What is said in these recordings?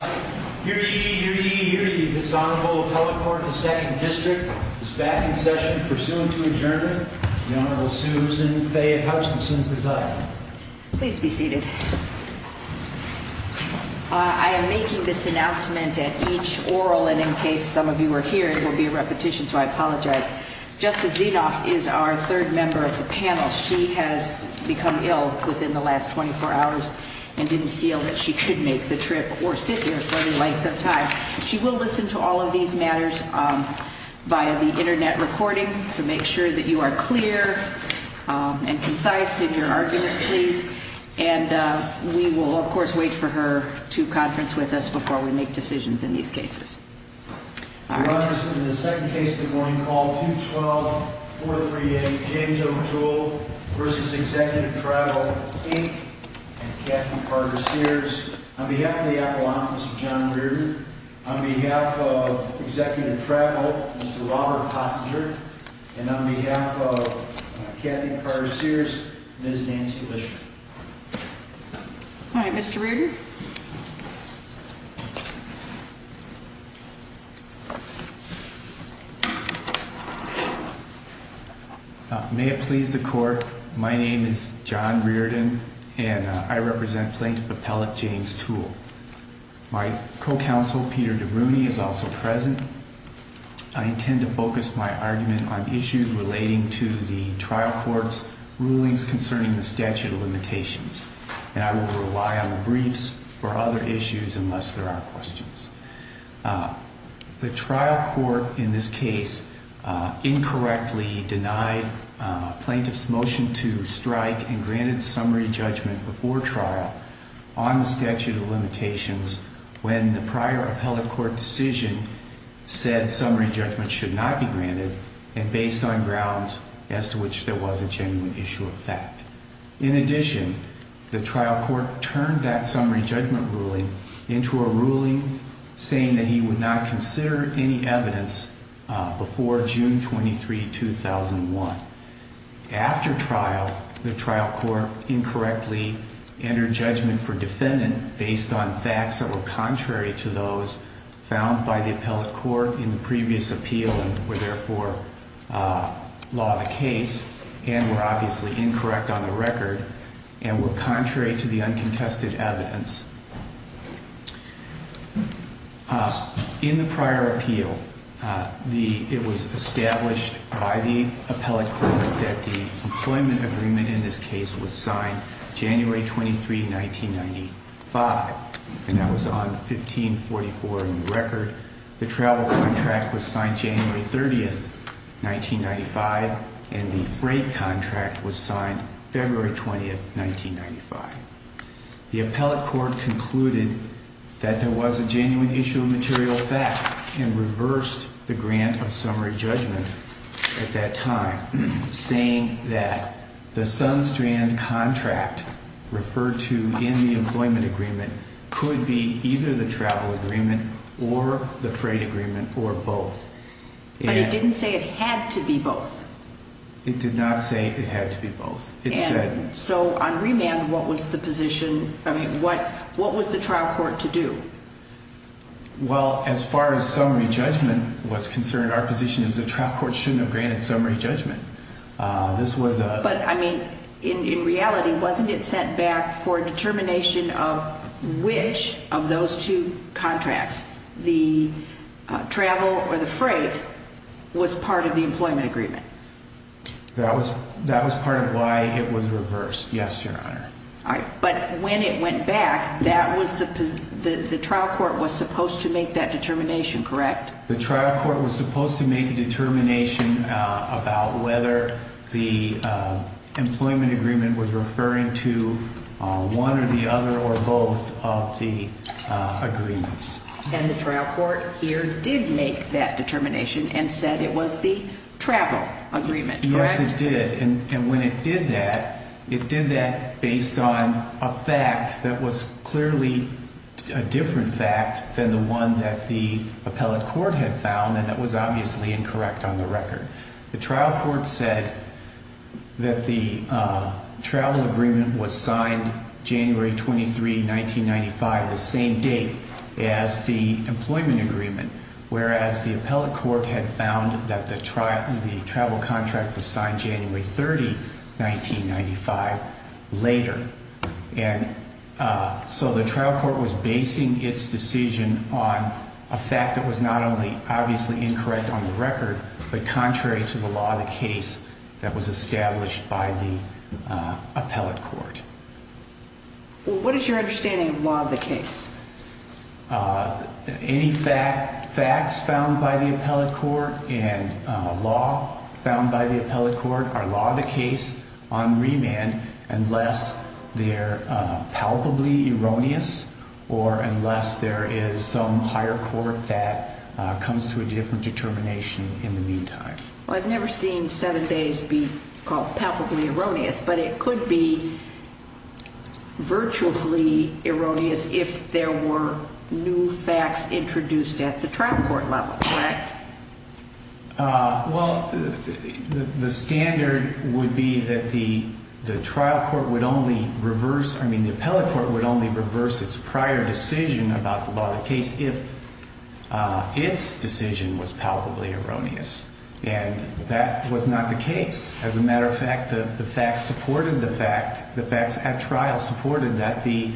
Please be seated. I am making this announcement at each oral and in case some of you are here, it will be a repetition, so I apologize. Justice Zinoff is our third member of the panel. She has become ill within the last 24 hours and didn't feel that she could make the trip or sit here for the length of time. She will listen to all of these matters via the internet recording, so make sure that you are clear and concise in your arguments, please. And we will, of course, wait for her to conference with us before we make decisions in these cases. Your Honor, this is the second case of the morning called 212-438 James O. Toole v. Executive Travel, Inc. and Kathy Carter-Sears. On behalf of the Appellant, Mr. John Reardon, on behalf of Executive Travel, Mr. Robert Hottinger, and on behalf of Kathy Carter-Sears, Ms. Nancy Lishman. Alright, Mr. Reardon. May it please the Court, my name is John Reardon and I represent Plaintiff Appellant James Toole. My co-counsel, Peter DeBruni, is also present. I intend to focus my argument on issues relating to the trial court's rulings concerning the statute of limitations. And I will rely on the briefs for other issues unless there are questions. The trial court in this case incorrectly denied plaintiff's motion to strike and granted summary judgment before trial on the statute of limitations when the prior appellate court decision said summary judgment should not be granted and based on grounds as to which there was a genuine issue of fact. In addition, the trial court turned that summary judgment ruling into a ruling saying that he would not consider any evidence before June 23, 2001. After trial, the trial court incorrectly entered judgment for defendant based on facts that were contrary to those found by the appellate court in the previous appeal and were therefore law of the case and were obviously incorrect on the record and were contrary to the uncontested evidence. In the prior appeal, it was established by the appellate court that the employment agreement in this case was signed January 23, 1995. And that was on 1544 in the record. The travel contract was signed January 30, 1995, and the freight contract was signed February 20, 1995. The appellate court concluded that there was a genuine issue of material fact and reversed the grant of summary judgment at that time, saying that the Sun Strand contract referred to in the employment agreement could be either the travel agreement or the freight agreement or both. But it didn't say it had to be both. It did not say it had to be both. And so on remand, what was the position? I mean, what was the trial court to do? Well, as far as summary judgment was concerned, our position is the trial court shouldn't have granted summary judgment. This was a... But, I mean, in reality, wasn't it sent back for determination of which of those two contracts, the travel or the freight, was part of the employment agreement? That was part of why it was reversed, yes, Your Honor. All right, but when it went back, the trial court was supposed to make that determination, correct? The trial court was supposed to make a determination about whether the employment agreement was referring to one or the other or both of the agreements. And the trial court here did make that determination and said it was the travel agreement, correct? Yes, it did. And when it did that, it did that based on a fact that was clearly a different fact than the one that the appellate court had found, and that was obviously incorrect on the record. The trial court said that the travel agreement was signed January 23, 1995, the same date as the employment agreement, whereas the appellate court had found that the travel contract was signed January 30, 1995, later. And so the trial court was basing its decision on a fact that was not only obviously incorrect on the record, but contrary to the law of the case that was established by the appellate court. What is your understanding of law of the case? Any facts found by the appellate court and law found by the appellate court are law of the case on remand unless they're palpably erroneous or unless there is some higher court that comes to a different determination in the meantime. Well, I've never seen seven days be called palpably erroneous, but it could be virtually erroneous if there were new facts introduced at the trial court level, correct? Well, the standard would be that the trial court would only reverse, I mean, the appellate court would only reverse its prior decision about the law of the case if its decision was palpably erroneous. And that was not the case. As a matter of fact, the facts supported the fact, the facts at trial supported that the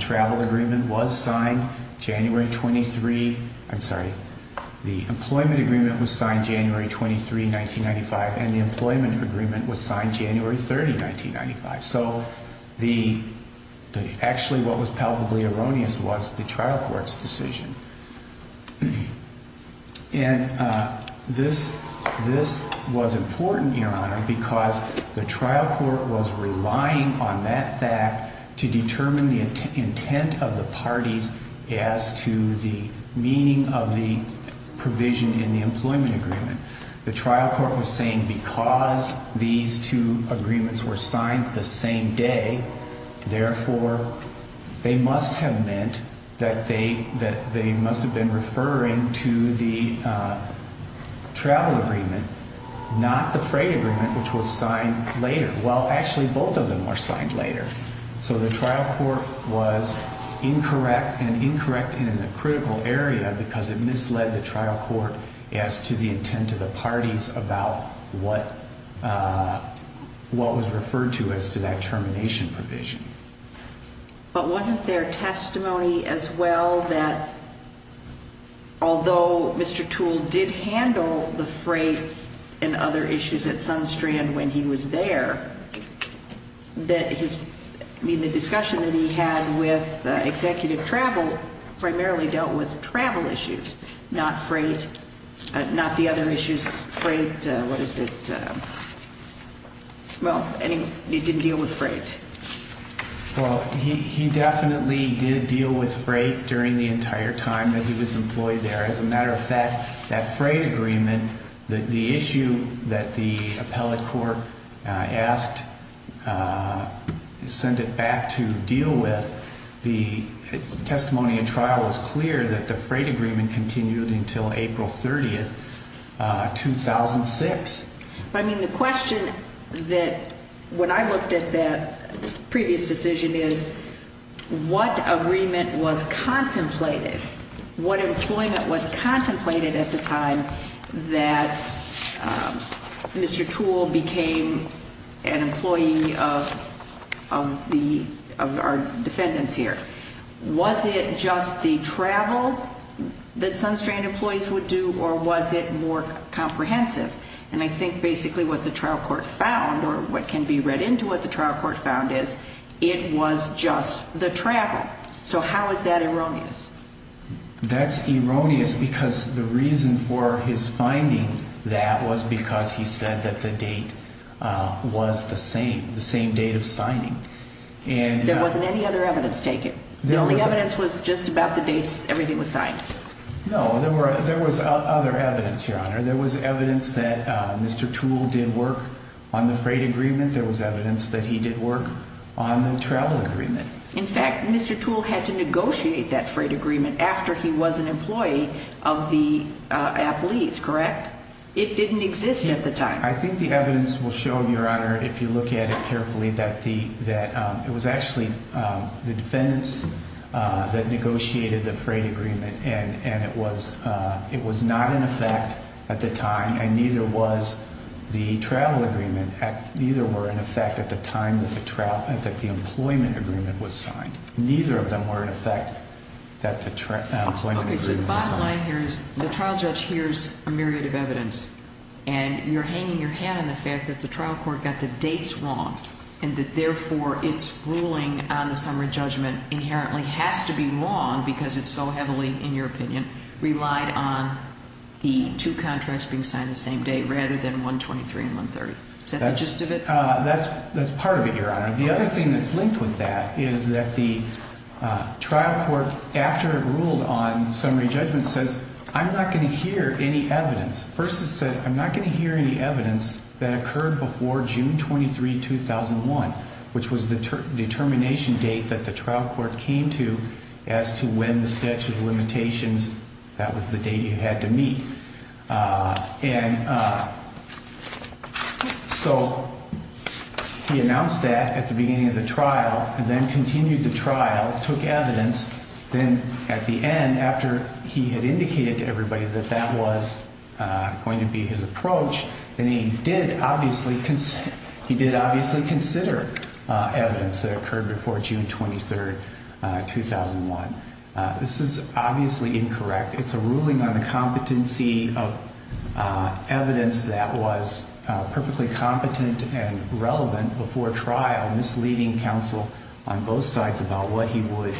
travel agreement was signed January 23, I'm sorry, the employment agreement was signed January 23, 1995, and the employment agreement was signed January 30, 1995. So actually what was palpably erroneous was the trial court's decision. And this was important, Your Honor, because the trial court was relying on that fact to determine the intent of the parties as to the meaning of the provision in the employment agreement. The trial court was saying because these two agreements were signed the same day, therefore, they must have meant that they must have been referring to the travel agreement, not the freight agreement, which was signed later. Well, actually, both of them were signed later. So the trial court was incorrect and incorrect in a critical area because it misled the trial court as to the intent of the parties about what was referred to as to that termination provision. But wasn't there testimony as well that although Mr. Toole did handle the freight and other issues at Sunstrand when he was there, that his, I mean, the discussion that he had with executive travel primarily dealt with travel issues, not freight, not the other issues, freight, what is it, well, it didn't deal with freight. Well, he definitely did deal with freight during the entire time that he was employed there. As a matter of fact, that freight agreement, the issue that the appellate court asked, send it back to deal with, the testimony in trial was clear that the freight agreement continued until April 30th, 2006. But, I mean, the question that when I looked at that previous decision is what agreement was contemplated? What employment was contemplated at the time that Mr. Toole became an employee of our defendants here? Was it just the travel that Sunstrand employees would do or was it more comprehensive? And I think basically what the trial court found or what can be read into what the trial court found is it was just the travel. So how is that erroneous? That's erroneous because the reason for his finding that was because he said that the date was the same, the same date of signing. There wasn't any other evidence taken? The only evidence was just about the dates everything was signed? No, there was other evidence, Your Honor. There was evidence that Mr. Toole did work on the freight agreement. There was evidence that he did work on the travel agreement. In fact, Mr. Toole had to negotiate that freight agreement after he was an employee of the appellees, correct? It didn't exist at the time. I think the evidence will show, Your Honor, if you look at it carefully, that it was actually the defendants that negotiated the freight agreement. And it was not in effect at the time and neither was the travel agreement. Neither were in effect at the time that the employment agreement was signed. Neither of them were in effect at the time that the employment agreement was signed. Okay, so the bottom line here is the trial judge hears a myriad of evidence and you're hanging your hat on the fact that the trial court got the dates wrong and that therefore its ruling on the summary judgment inherently has to be wrong because it's so heavily, in your opinion, relied on the two contracts being signed the same day rather than 123 and 130. Is that the gist of it? That's part of it, Your Honor. The other thing that's linked with that is that the trial court, after it ruled on summary judgment, says, I'm not going to hear any evidence. First it said, I'm not going to hear any evidence that occurred before June 23, 2001, which was the determination date that the trial court came to as to when the statute of limitations, that was the date you had to meet. And so he announced that at the beginning of the trial and then continued the trial, took evidence. Then at the end, after he had indicated to everybody that that was going to be his approach, then he did obviously consider evidence that occurred before June 23, 2001. This is obviously incorrect. It's a ruling on the competency of evidence that was perfectly competent and relevant before trial, misleading counsel on both sides about what he would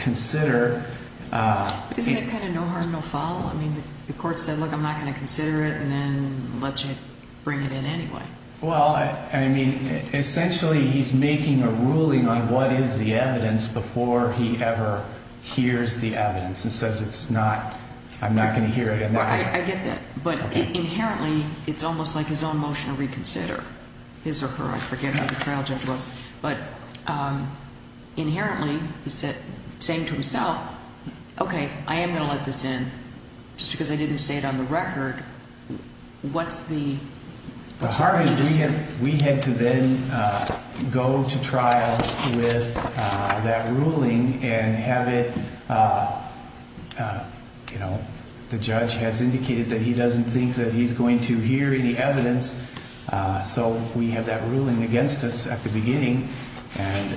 consider. Isn't that kind of no harm, no foul? I mean, the court said, look, I'm not going to consider it and then let you bring it in anyway. Well, I mean, essentially he's making a ruling on what is the evidence before he ever hears the evidence and says it's not, I'm not going to hear it. I get that. But inherently, it's almost like his own motion to reconsider his or her. I forget how the trial judge was, but inherently he said same to himself. OK, I am going to let this in just because I didn't say it on the record. What's the. We had to then go to trial with that ruling and have it, you know, the judge has indicated that he doesn't think that he's going to hear any evidence. So we have that ruling against us at the beginning. And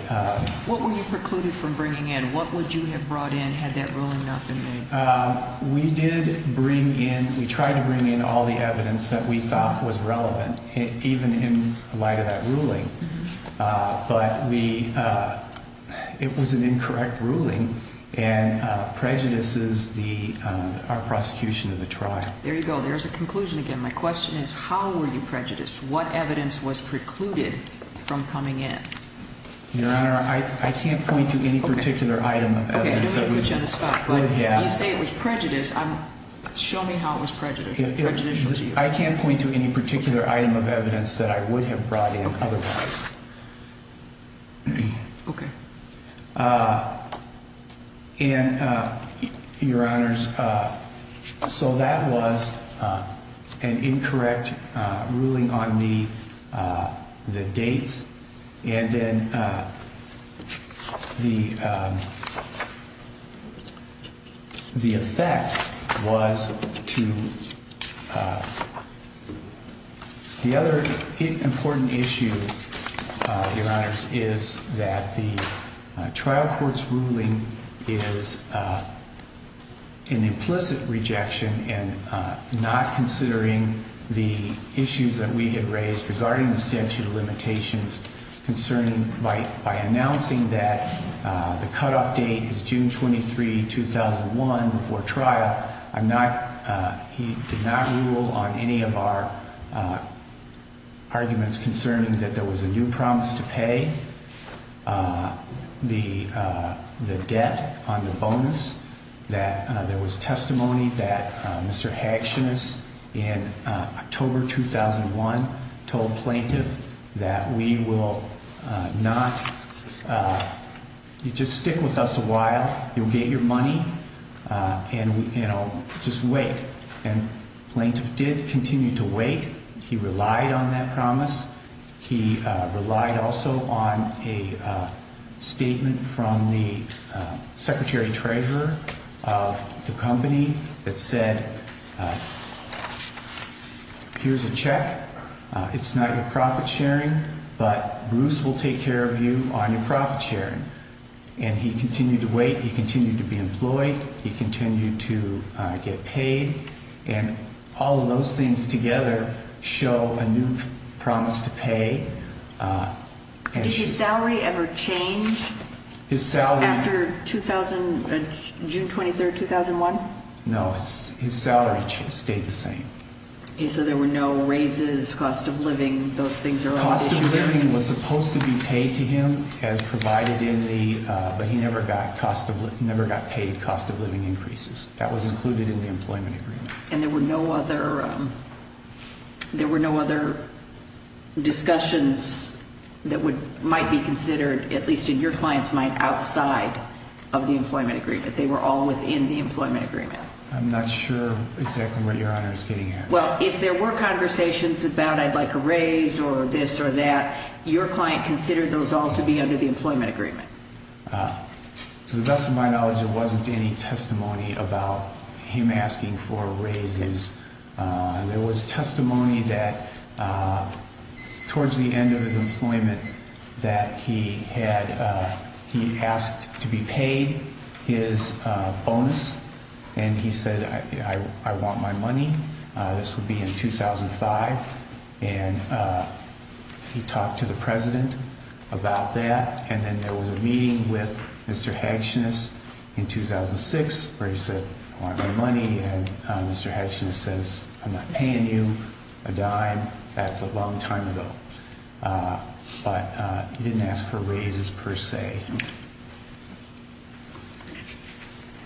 what were you precluded from bringing in? What would you have brought in had that ruling not been made? We did bring in. We tried to bring in all the evidence that we thought was relevant, even in light of that ruling. But we it was an incorrect ruling and prejudices the prosecution of the trial. There you go. There's a conclusion. Again, my question is, how were you prejudiced? What evidence was precluded from coming in? Your Honor, I can't point to any particular item. You say it was prejudice. Show me how it was prejudiced. I can't point to any particular item of evidence that I would have brought in otherwise. OK. And your honors. So that was an incorrect ruling on the the dates. And then the. The effect was to. The other important issue, your honors, is that the trial court's ruling is. An implicit rejection and not considering the issues that we had raised regarding the statute of limitations concerning by by announcing that the cutoff date is June 23, 2001 before trial. I'm not he did not rule on any of our. Arguments concerning that there was a new promise to pay the debt on the bonus that there was testimony that Mr. And, you know, just wait and plaintiff did continue to wait. He relied on that promise. He relied also on a statement from the secretary treasurer of the company that said. Here's a check. It's not a profit sharing, but Bruce will take care of you on your profit sharing. And he continued to wait. He continued to be employed. He continued to get paid. And all of those things together show a new promise to pay. And his salary ever change his salary after 2000, June 23rd, 2001. No, it's his salary. It stayed the same. So there were no raises. Cost of living. Those things are cost of living was supposed to be paid to him as provided in the but he never got cost of never got paid. Cost of living increases that was included in the employment agreement. And there were no other. There were no other discussions that would might be considered, at least in your client's mind, outside of the employment agreement. They were all within the employment agreement. I'm not sure exactly what your honor is getting at. Well, if there were conversations about I'd like a raise or this or that, your client considered those all to be under the employment agreement. To the best of my knowledge, there wasn't any testimony about him asking for raises. There was testimony that towards the end of his employment that he had, he asked to be paid his bonus and he said, I want my money. This would be in 2005. And he talked to the president about that. And then there was a meeting with Mr. Hatchness in 2006 where he said, I want my money. And Mr. Hatchness says, I'm not paying you a dime. That's a long time ago. But he didn't ask for raises per se.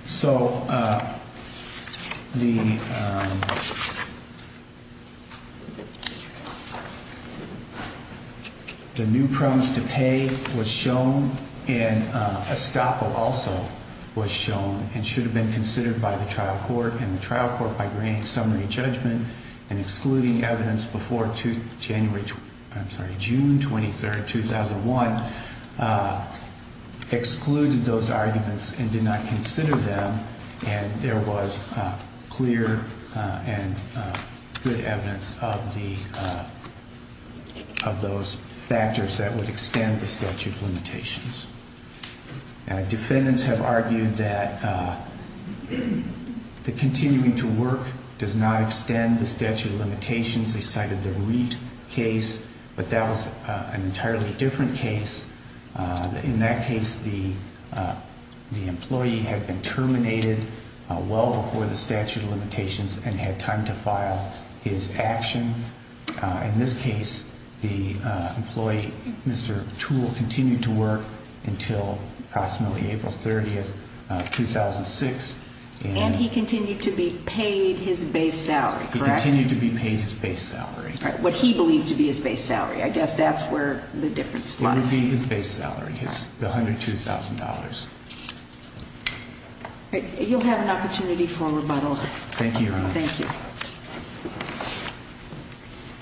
So the new promise to pay was shown and a stopper also was shown and should have been considered by the trial court and the trial court by grand summary judgment and excluding evidence before January, I'm sorry, June 23rd, 2001. Excluded those arguments and did not consider them. And there was clear and good evidence of the, of those factors that would extend the statute of limitations. Defendants have argued that the continuing to work does not extend the statute of limitations. They cited the REIT case, but that was an entirely different case. In that case, the employee had been terminated well before the statute of limitations and had time to file his action. In this case, the employee, Mr. Tool, continued to work until approximately April 30th, 2006. And he continued to be paid his base salary, correct? He continued to be paid his base salary. What he believed to be his base salary. I guess that's where the difference lies. It would be his base salary, his $102,000. You'll have an opportunity for a rebuttal. Thank you, Your Honor. Thank you.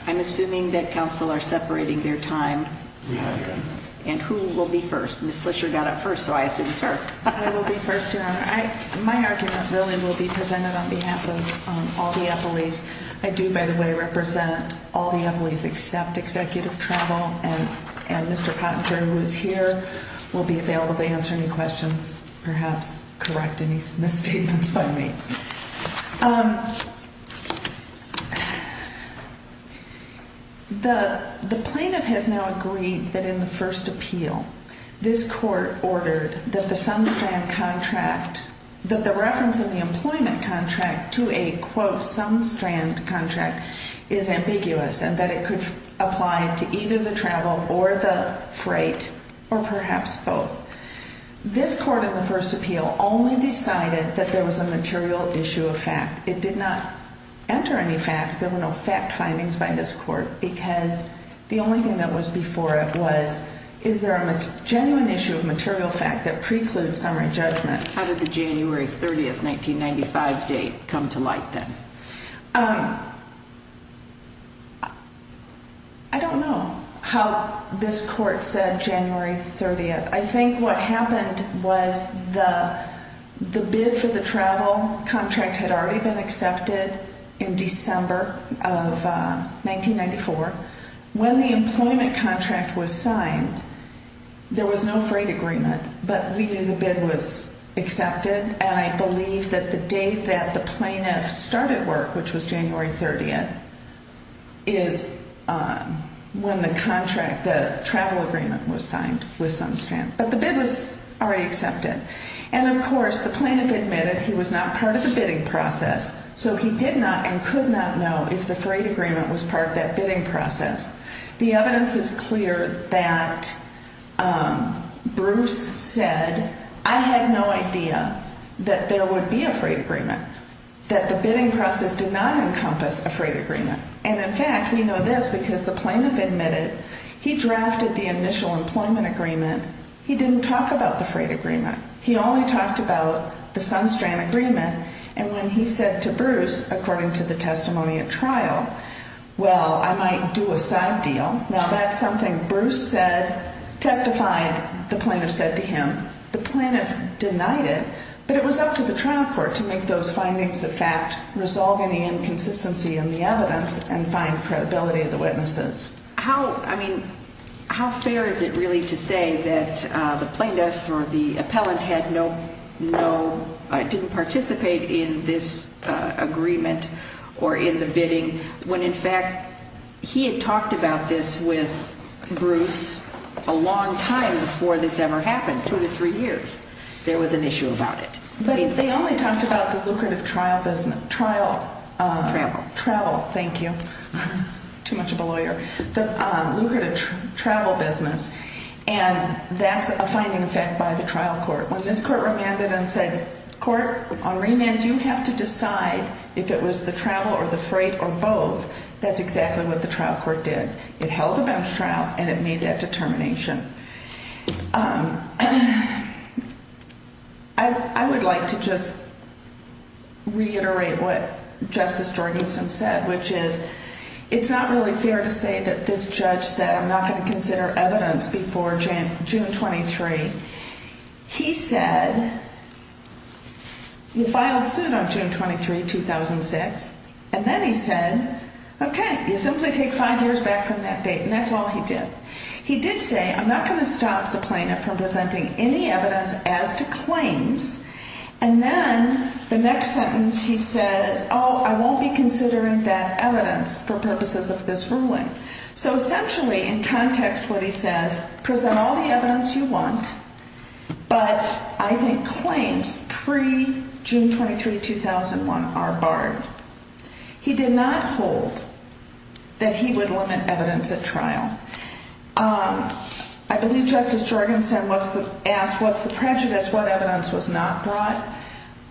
I'm assuming that counsel are separating their time. And who will be first? Ms. Fischer got it first, so I assume it's her. I will be first, Your Honor. My argument really will be presented on behalf of all the employees. I do, by the way, represent all the employees except executive travel. And Mr. Pottinger, who is here, will be available to answer any questions, perhaps correct any misstatements by me. The plaintiff has now agreed that in the first appeal, this court ordered that the sum-strand contract, that the reference of the employment contract to a, quote, sum-strand contract is ambiguous and that it could apply to either the travel or the freight or perhaps both. This court in the first appeal only decided that there was a material issue of fact. It did not enter any facts. There were no fact findings by this court because the only thing that was before it was, is there a genuine issue of material fact that precludes summary judgment? How did the January 30th, 1995 date come to light then? I don't know how this court said January 30th. I think what happened was the bid for the travel contract had already been accepted in December of 1994. When the employment contract was signed, there was no freight agreement, but we knew the bid was accepted. And I believe that the date that the plaintiff started work, which was January 30th, is when the contract, the travel agreement was signed with sum-strand. But the bid was already accepted. And of course, the plaintiff admitted he was not part of the bidding process, so he did not and could not know if the freight agreement was part of that bidding process. The evidence is clear that Bruce said, I had no idea that there would be a freight agreement, that the bidding process did not encompass a freight agreement. And in fact, we know this because the plaintiff admitted he drafted the initial employment agreement. He didn't talk about the freight agreement. He only talked about the sum-strand agreement. And when he said to Bruce, according to the testimony at trial, well, I might do a side deal. Now that's something Bruce said, testified, the plaintiff said to him. The plaintiff denied it, but it was up to the trial court to make those findings a fact, resolve any inconsistency in the evidence, and find credibility of the witnesses. How, I mean, how fair is it really to say that the plaintiff or the appellant had no, didn't participate in this agreement or in the bidding, when in fact he had talked about this with Bruce a long time before this ever happened, two to three years. There was an issue about it. But they only talked about the lucrative trial business, trial. Travel. Travel, thank you. Too much of a lawyer. The lucrative travel business, and that's a finding a fact by the trial court. When this court remanded and said, court, on remand you have to decide if it was the travel or the freight or both, that's exactly what the trial court did. It held a bench trial and it made that determination. I would like to just reiterate what Justice Jorgensen said, which is it's not really fair to say that this judge said, I'm not going to consider evidence before June 23. He said, you filed suit on June 23, 2006, and then he said, okay, you simply take five years back from that date, and that's all he did. He did say, I'm not going to stop the plaintiff from presenting any evidence as to claims. And then the next sentence he says, oh, I won't be considering that evidence for purposes of this ruling. So essentially in context what he says, present all the evidence you want, but I think claims pre-June 23, 2001 are barred. He did not hold that he would limit evidence at trial. I believe Justice Jorgensen asked, what's the prejudice? What evidence was not brought?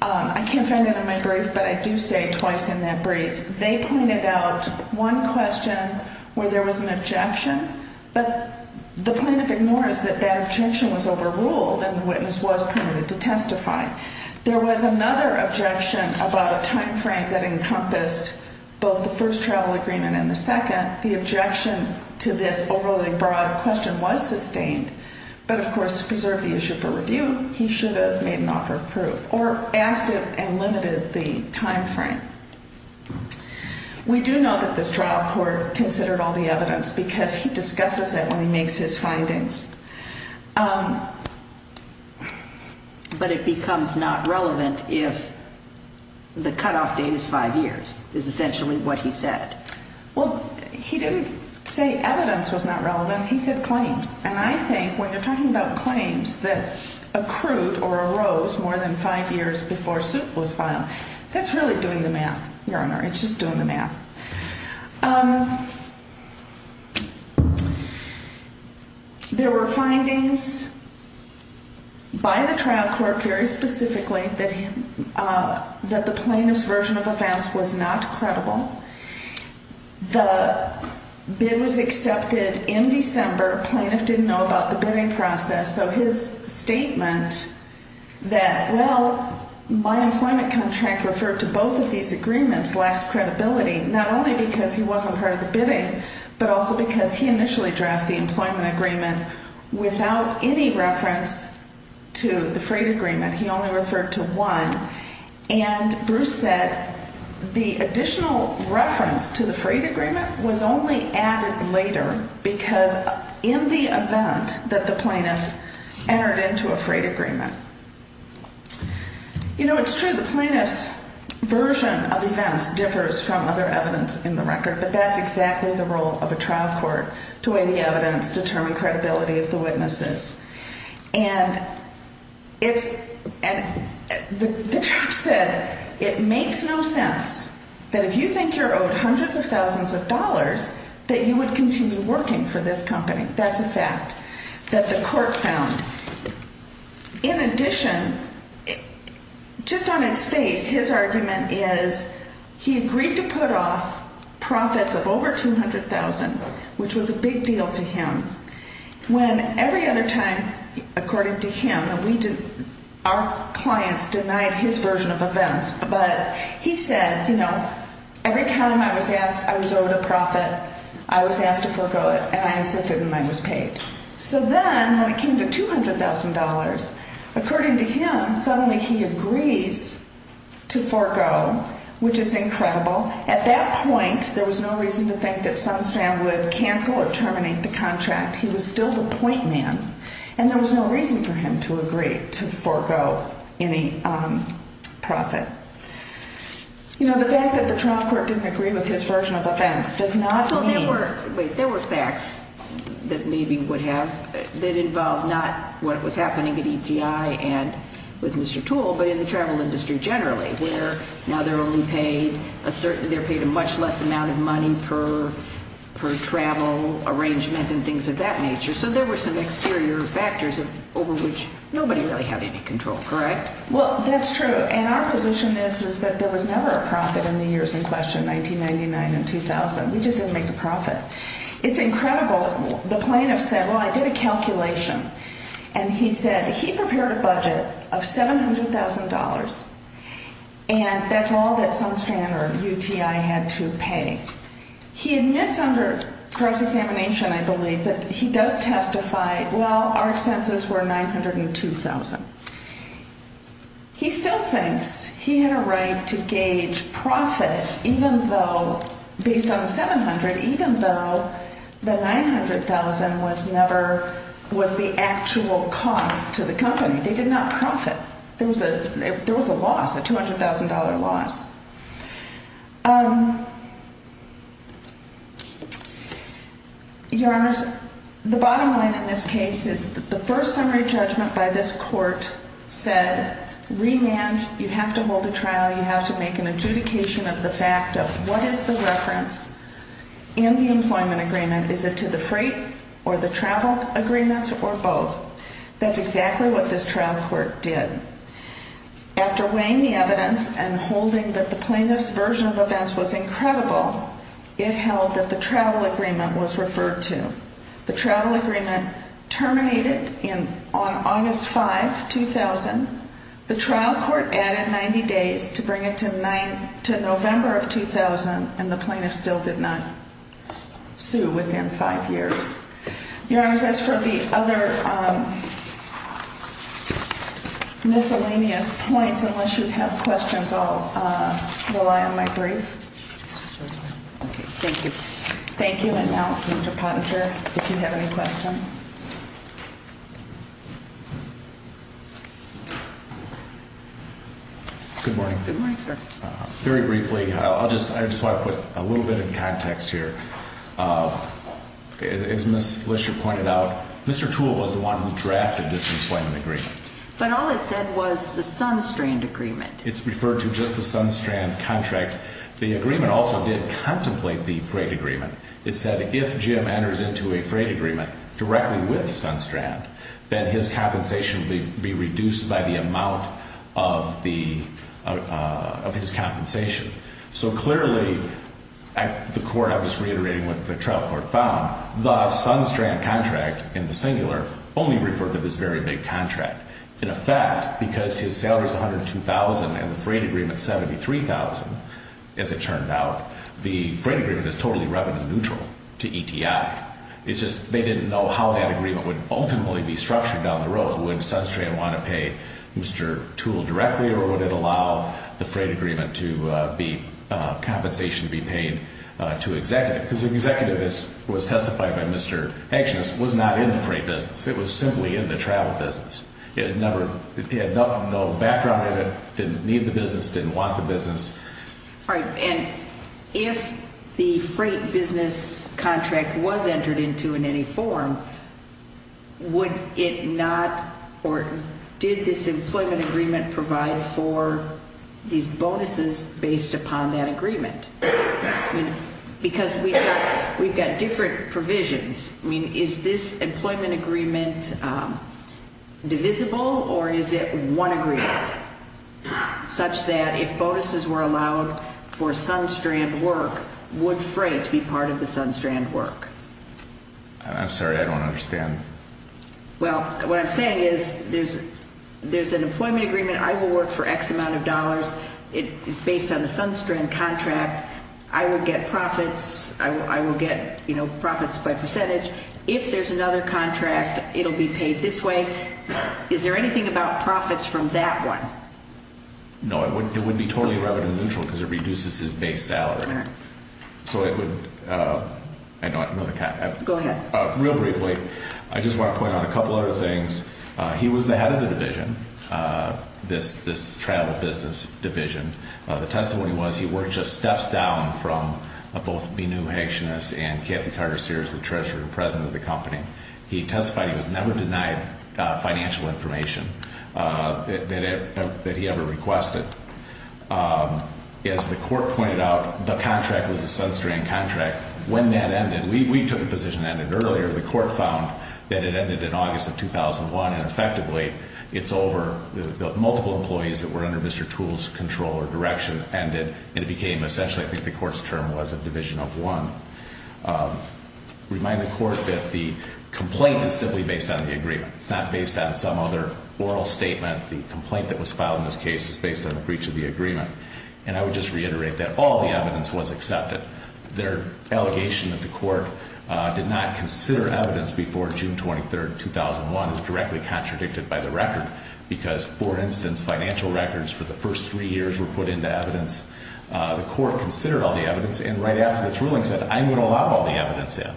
I can't find it in my brief, but I do say twice in that brief, they pointed out one question where there was an objection, but the plaintiff ignores that that objection was overruled and the witness was permitted to testify. There was another objection about a time frame that encompassed both the first travel agreement and the second. The objection to this overly broad question was sustained, but of course to preserve the issue for review, he should have made an offer of proof or asked him and limited the time frame. We do know that this trial court considered all the evidence because he discusses it when he makes his findings. But it becomes not relevant if the cutoff date is five years is essentially what he said. Well, he didn't say evidence was not relevant. He said claims. And I think when you're talking about claims that accrued or arose more than five years before suit was filed, that's really doing the math, Your Honor. It's just doing the math. There were findings by the trial court very specifically that the plaintiff's version of offense was not credible. The bid was accepted in December. Plaintiff didn't know about the bidding process. So his statement that, well, my employment contract referred to both of these agreements lacks credibility, not only because he wasn't part of the bidding but also because he initially drafted the employment agreement without any reference to the freight agreement. He only referred to one. And Bruce said the additional reference to the freight agreement was only added later because in the event that the plaintiff entered into a freight agreement. You know, it's true, the plaintiff's version of events differs from other evidence in the record. But that's exactly the role of a trial court, to weigh the evidence, determine credibility of the witnesses. And the judge said it makes no sense that if you think you're owed hundreds of thousands of dollars that you would continue working for this company. That's a fact that the court found. In addition, just on its face, his argument is he agreed to put off profits of over $200,000, which was a big deal to him. When every other time, according to him, our clients denied his version of events, but he said, you know, every time I was asked, I was owed a profit, I was asked to forego it, and I insisted and I was paid. So then when it came to $200,000, according to him, suddenly he agrees to forego, which is incredible. At that point, there was no reason to think that Sunstrand would cancel or terminate the contract. He was still the point man. And there was no reason for him to agree to forego any profit. You know, the fact that the trial court didn't agree with his version of events does not mean. There were facts that maybe would have, that involved not what was happening at ETI and with Mr. Toole, but in the they're paid a much less amount of money per travel arrangement and things of that nature. So there were some exterior factors over which nobody really had any control, correct? Well, that's true. And our position is, is that there was never a profit in the years in question, 1999 and 2000. We just didn't make a profit. It's incredible. The plaintiff said, well, I did a calculation. And he said he prepared a budget of $700,000 and that's all that Sunstrand or UTI had to pay. He admits under cross-examination, I believe, but he does testify. Well, our expenses were $902,000. He still thinks he had a right to gauge profit, even though, based on the $700,000, even though the $900,000 was never, was the actual cost to the company. They did not profit. There was a loss, a $200,000 loss. Your Honor, the bottom line in this case is that the first summary judgment by this court said, remand, you have to hold a trial. You have to make an adjudication of the fact of what is the reference in the employment agreement. Is it to the freight or the travel agreements or both? That's exactly what this trial court did. After weighing the evidence and holding that the plaintiff's version of events was incredible, it held that the travel agreement was referred to. The travel agreement terminated on August 5, 2000. The trial court added 90 days to bring it to November of 2000, and the plaintiff still did not sue within five years. Your Honor, as for the other miscellaneous points, unless you have questions, I'll rely on my brief. Thank you. Thank you. And now, Mr. Pottinger, if you have any questions. Good morning. Good morning, sir. Very briefly, I just want to put a little bit of context here. As Ms. Lesher pointed out, Mr. Toole was the one who drafted this employment agreement. But all it said was the SunStrand agreement. It's referred to just the SunStrand contract. The agreement also did contemplate the freight agreement. It said if Jim enters into a freight agreement directly with SunStrand, then his compensation would be reduced by the amount of his compensation. So clearly, the court, I'm just reiterating what the trial court found, the SunStrand contract in the singular only referred to this very big contract. In effect, because his salary is $102,000 and the freight agreement $73,000, as it turned out, the freight agreement is totally revenue neutral to ETI. It's just they didn't know how that agreement would ultimately be structured down the road. Would SunStrand want to pay Mr. Toole directly, or would it allow the freight agreement to be compensation to be paid to executive? Because the executive, as was testified by Mr. Hanks, was not in the freight business. It was simply in the travel business. It had no background in it, didn't need the business, didn't want the business. All right. And if the freight business contract was entered into in any form, would it not, or did this employment agreement provide for these bonuses based upon that agreement? Because we've got different provisions. I mean, is this employment agreement divisible, or is it one agreement such that if bonuses were allowed for SunStrand work, would freight be part of the SunStrand work? I'm sorry. I don't understand. Well, what I'm saying is there's an employment agreement. I will work for X amount of dollars. It's based on the SunStrand contract. I would get profits. I will get, you know, profits by percentage. If there's another contract, it will be paid this way. Is there anything about profits from that one? No, it wouldn't be totally revenue neutral because it reduces his base salary. All right. So it would – I know the – Go ahead. Real briefly, I just want to point out a couple other things. He was the head of the division, this travel business division. The testimony was he worked just steps down from both Minou Hegshanis and Kathy Carter-Sears, the treasurer and president of the company. He testified he was never denied financial information that he ever requested. As the court pointed out, the contract was a SunStrand contract. When that ended, we took a position that ended earlier. The court found that it ended in August of 2001, and effectively, it's over. The multiple employees that were under Mr. Toole's control or direction ended, and it became essentially, I think the court's term was a division of one. Remind the court that the complaint is simply based on the agreement. It's not based on some other oral statement. The complaint that was filed in this case is based on a breach of the agreement. And I would just reiterate that all the evidence was accepted. Their allegation that the court did not consider evidence before June 23, 2001 is directly contradicted by the record. Because, for instance, financial records for the first three years were put into evidence. The court considered all the evidence, and right after its ruling said, I'm going to allow all the evidence in.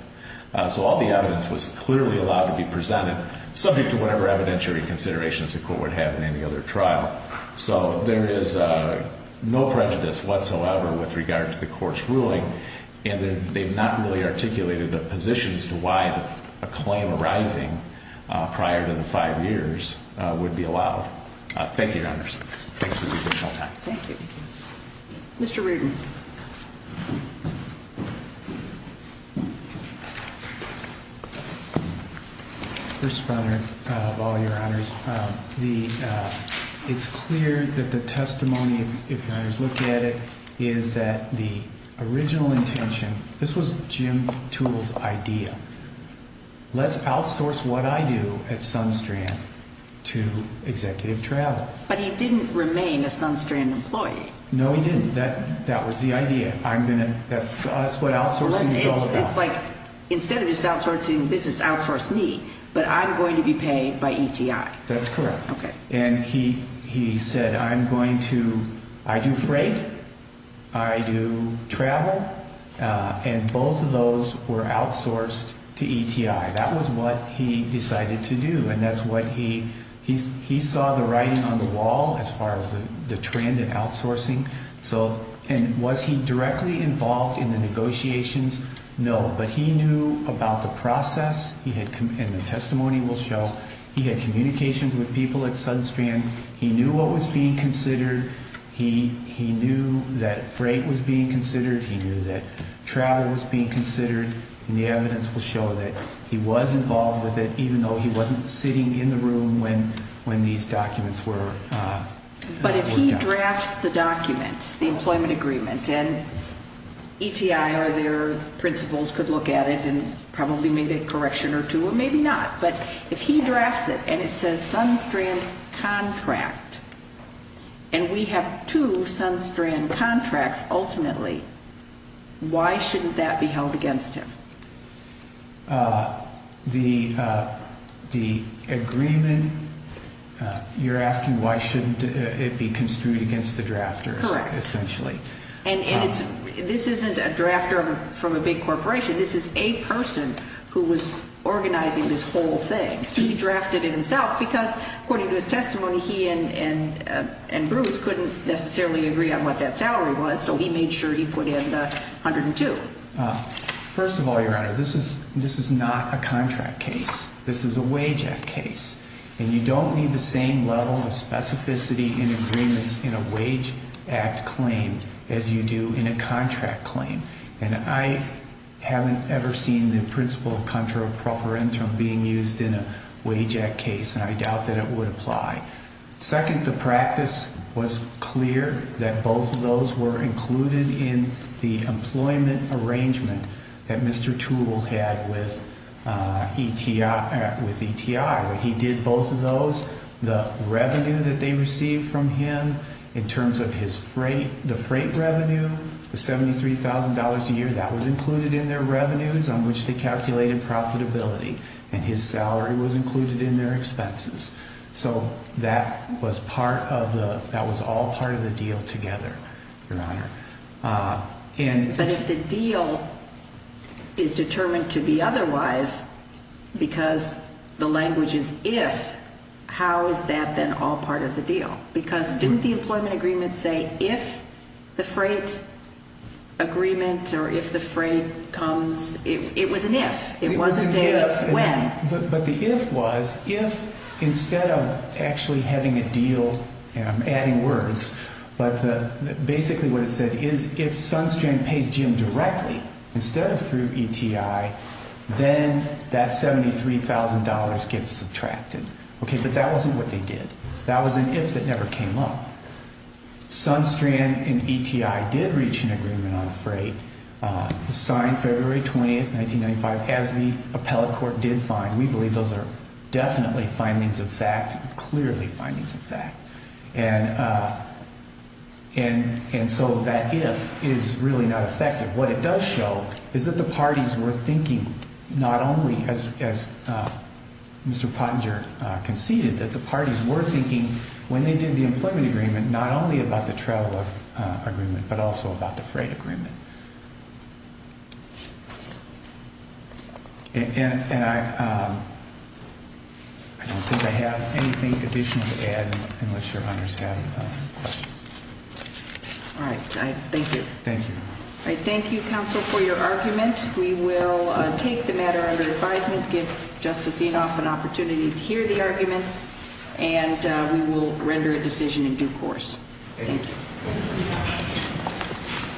So all the evidence was clearly allowed to be presented, subject to whatever evidentiary considerations the court would have in any other trial. So there is no prejudice whatsoever with regard to the court's ruling. And they've not really articulated the positions to why a claim arising prior to the five years would be allowed. Thank you, Your Honors. Thanks for your additional time. Thank you. Mr. Rudin. First, Your Honor, of all Your Honors, it's clear that the testimony, if you look at it, is that the original intention, this was Jim Toole's idea. Let's outsource what I do at Sunstrand to executive travel. But he didn't remain a Sunstrand employee. No, he didn't. That was the idea. That's what outsourcing is all about. It's like, instead of just outsourcing the business, outsource me. But I'm going to be paid by ETI. That's correct. Okay. And he said, I do freight, I do travel, and both of those were outsourced to ETI. That was what he decided to do. He saw the writing on the wall as far as the trend in outsourcing. And was he directly involved in the negotiations? No. But he knew about the process, and the testimony will show, he had communications with people at Sunstrand. He knew what was being considered. He knew that freight was being considered. He knew that travel was being considered. And the evidence will show that he was involved with it, even though he wasn't sitting in the room when these documents were done. But if he drafts the document, the employment agreement, and ETI or their principals could look at it and probably make a correction or two, or maybe not. But if he drafts it and it says Sunstrand contract, and we have two Sunstrand contracts ultimately, why shouldn't that be held against him? The agreement, you're asking why shouldn't it be construed against the drafters, essentially. Correct. And this isn't a drafter from a big corporation. This is a person who was organizing this whole thing. He drafted it himself because, according to his testimony, he and Bruce couldn't necessarily agree on what that salary was, so he made sure he put in the $102,000. First of all, Your Honor, this is not a contract case. This is a wage act case. And you don't need the same level of specificity in agreements in a wage act claim as you do in a contract claim. And I haven't ever seen the principle of contra pro forensum being used in a wage act case, and I doubt that it would apply. Second, the practice was clear that both of those were included in the employment arrangement that Mr. Toole had with ETI. He did both of those. The revenue that they received from him in terms of his freight, the freight revenue, the $73,000 a year, that was included in their revenues on which they calculated profitability, and his salary was included in their expenses. So that was all part of the deal together, Your Honor. But if the deal is determined to be otherwise because the language is if, how is that then all part of the deal? Because didn't the employment agreement say if the freight agreement or if the freight comes? It was an if. It was a day of when. But the if was if instead of actually having a deal, and I'm adding words, but basically what it said is if Sunstrand pays Jim directly instead of through ETI, then that $73,000 gets subtracted. Okay, but that wasn't what they did. That was an if that never came up. Sunstrand and ETI did reach an agreement on freight. It was signed February 20, 1995, as the appellate court did find. We believe those are definitely findings of fact, clearly findings of fact. And so that if is really not effective. What it does show is that the parties were thinking not only, as Mr. Pottinger conceded, that the parties were thinking when they did the employment agreement not only about the travel agreement, but also about the freight agreement. And I don't think I have anything additional to add unless your honors have questions. All right, thank you. Thank you. We will take the matter under advisement, give Justice Enoff an opportunity to hear the arguments, and we will render a decision in due course. Thank you.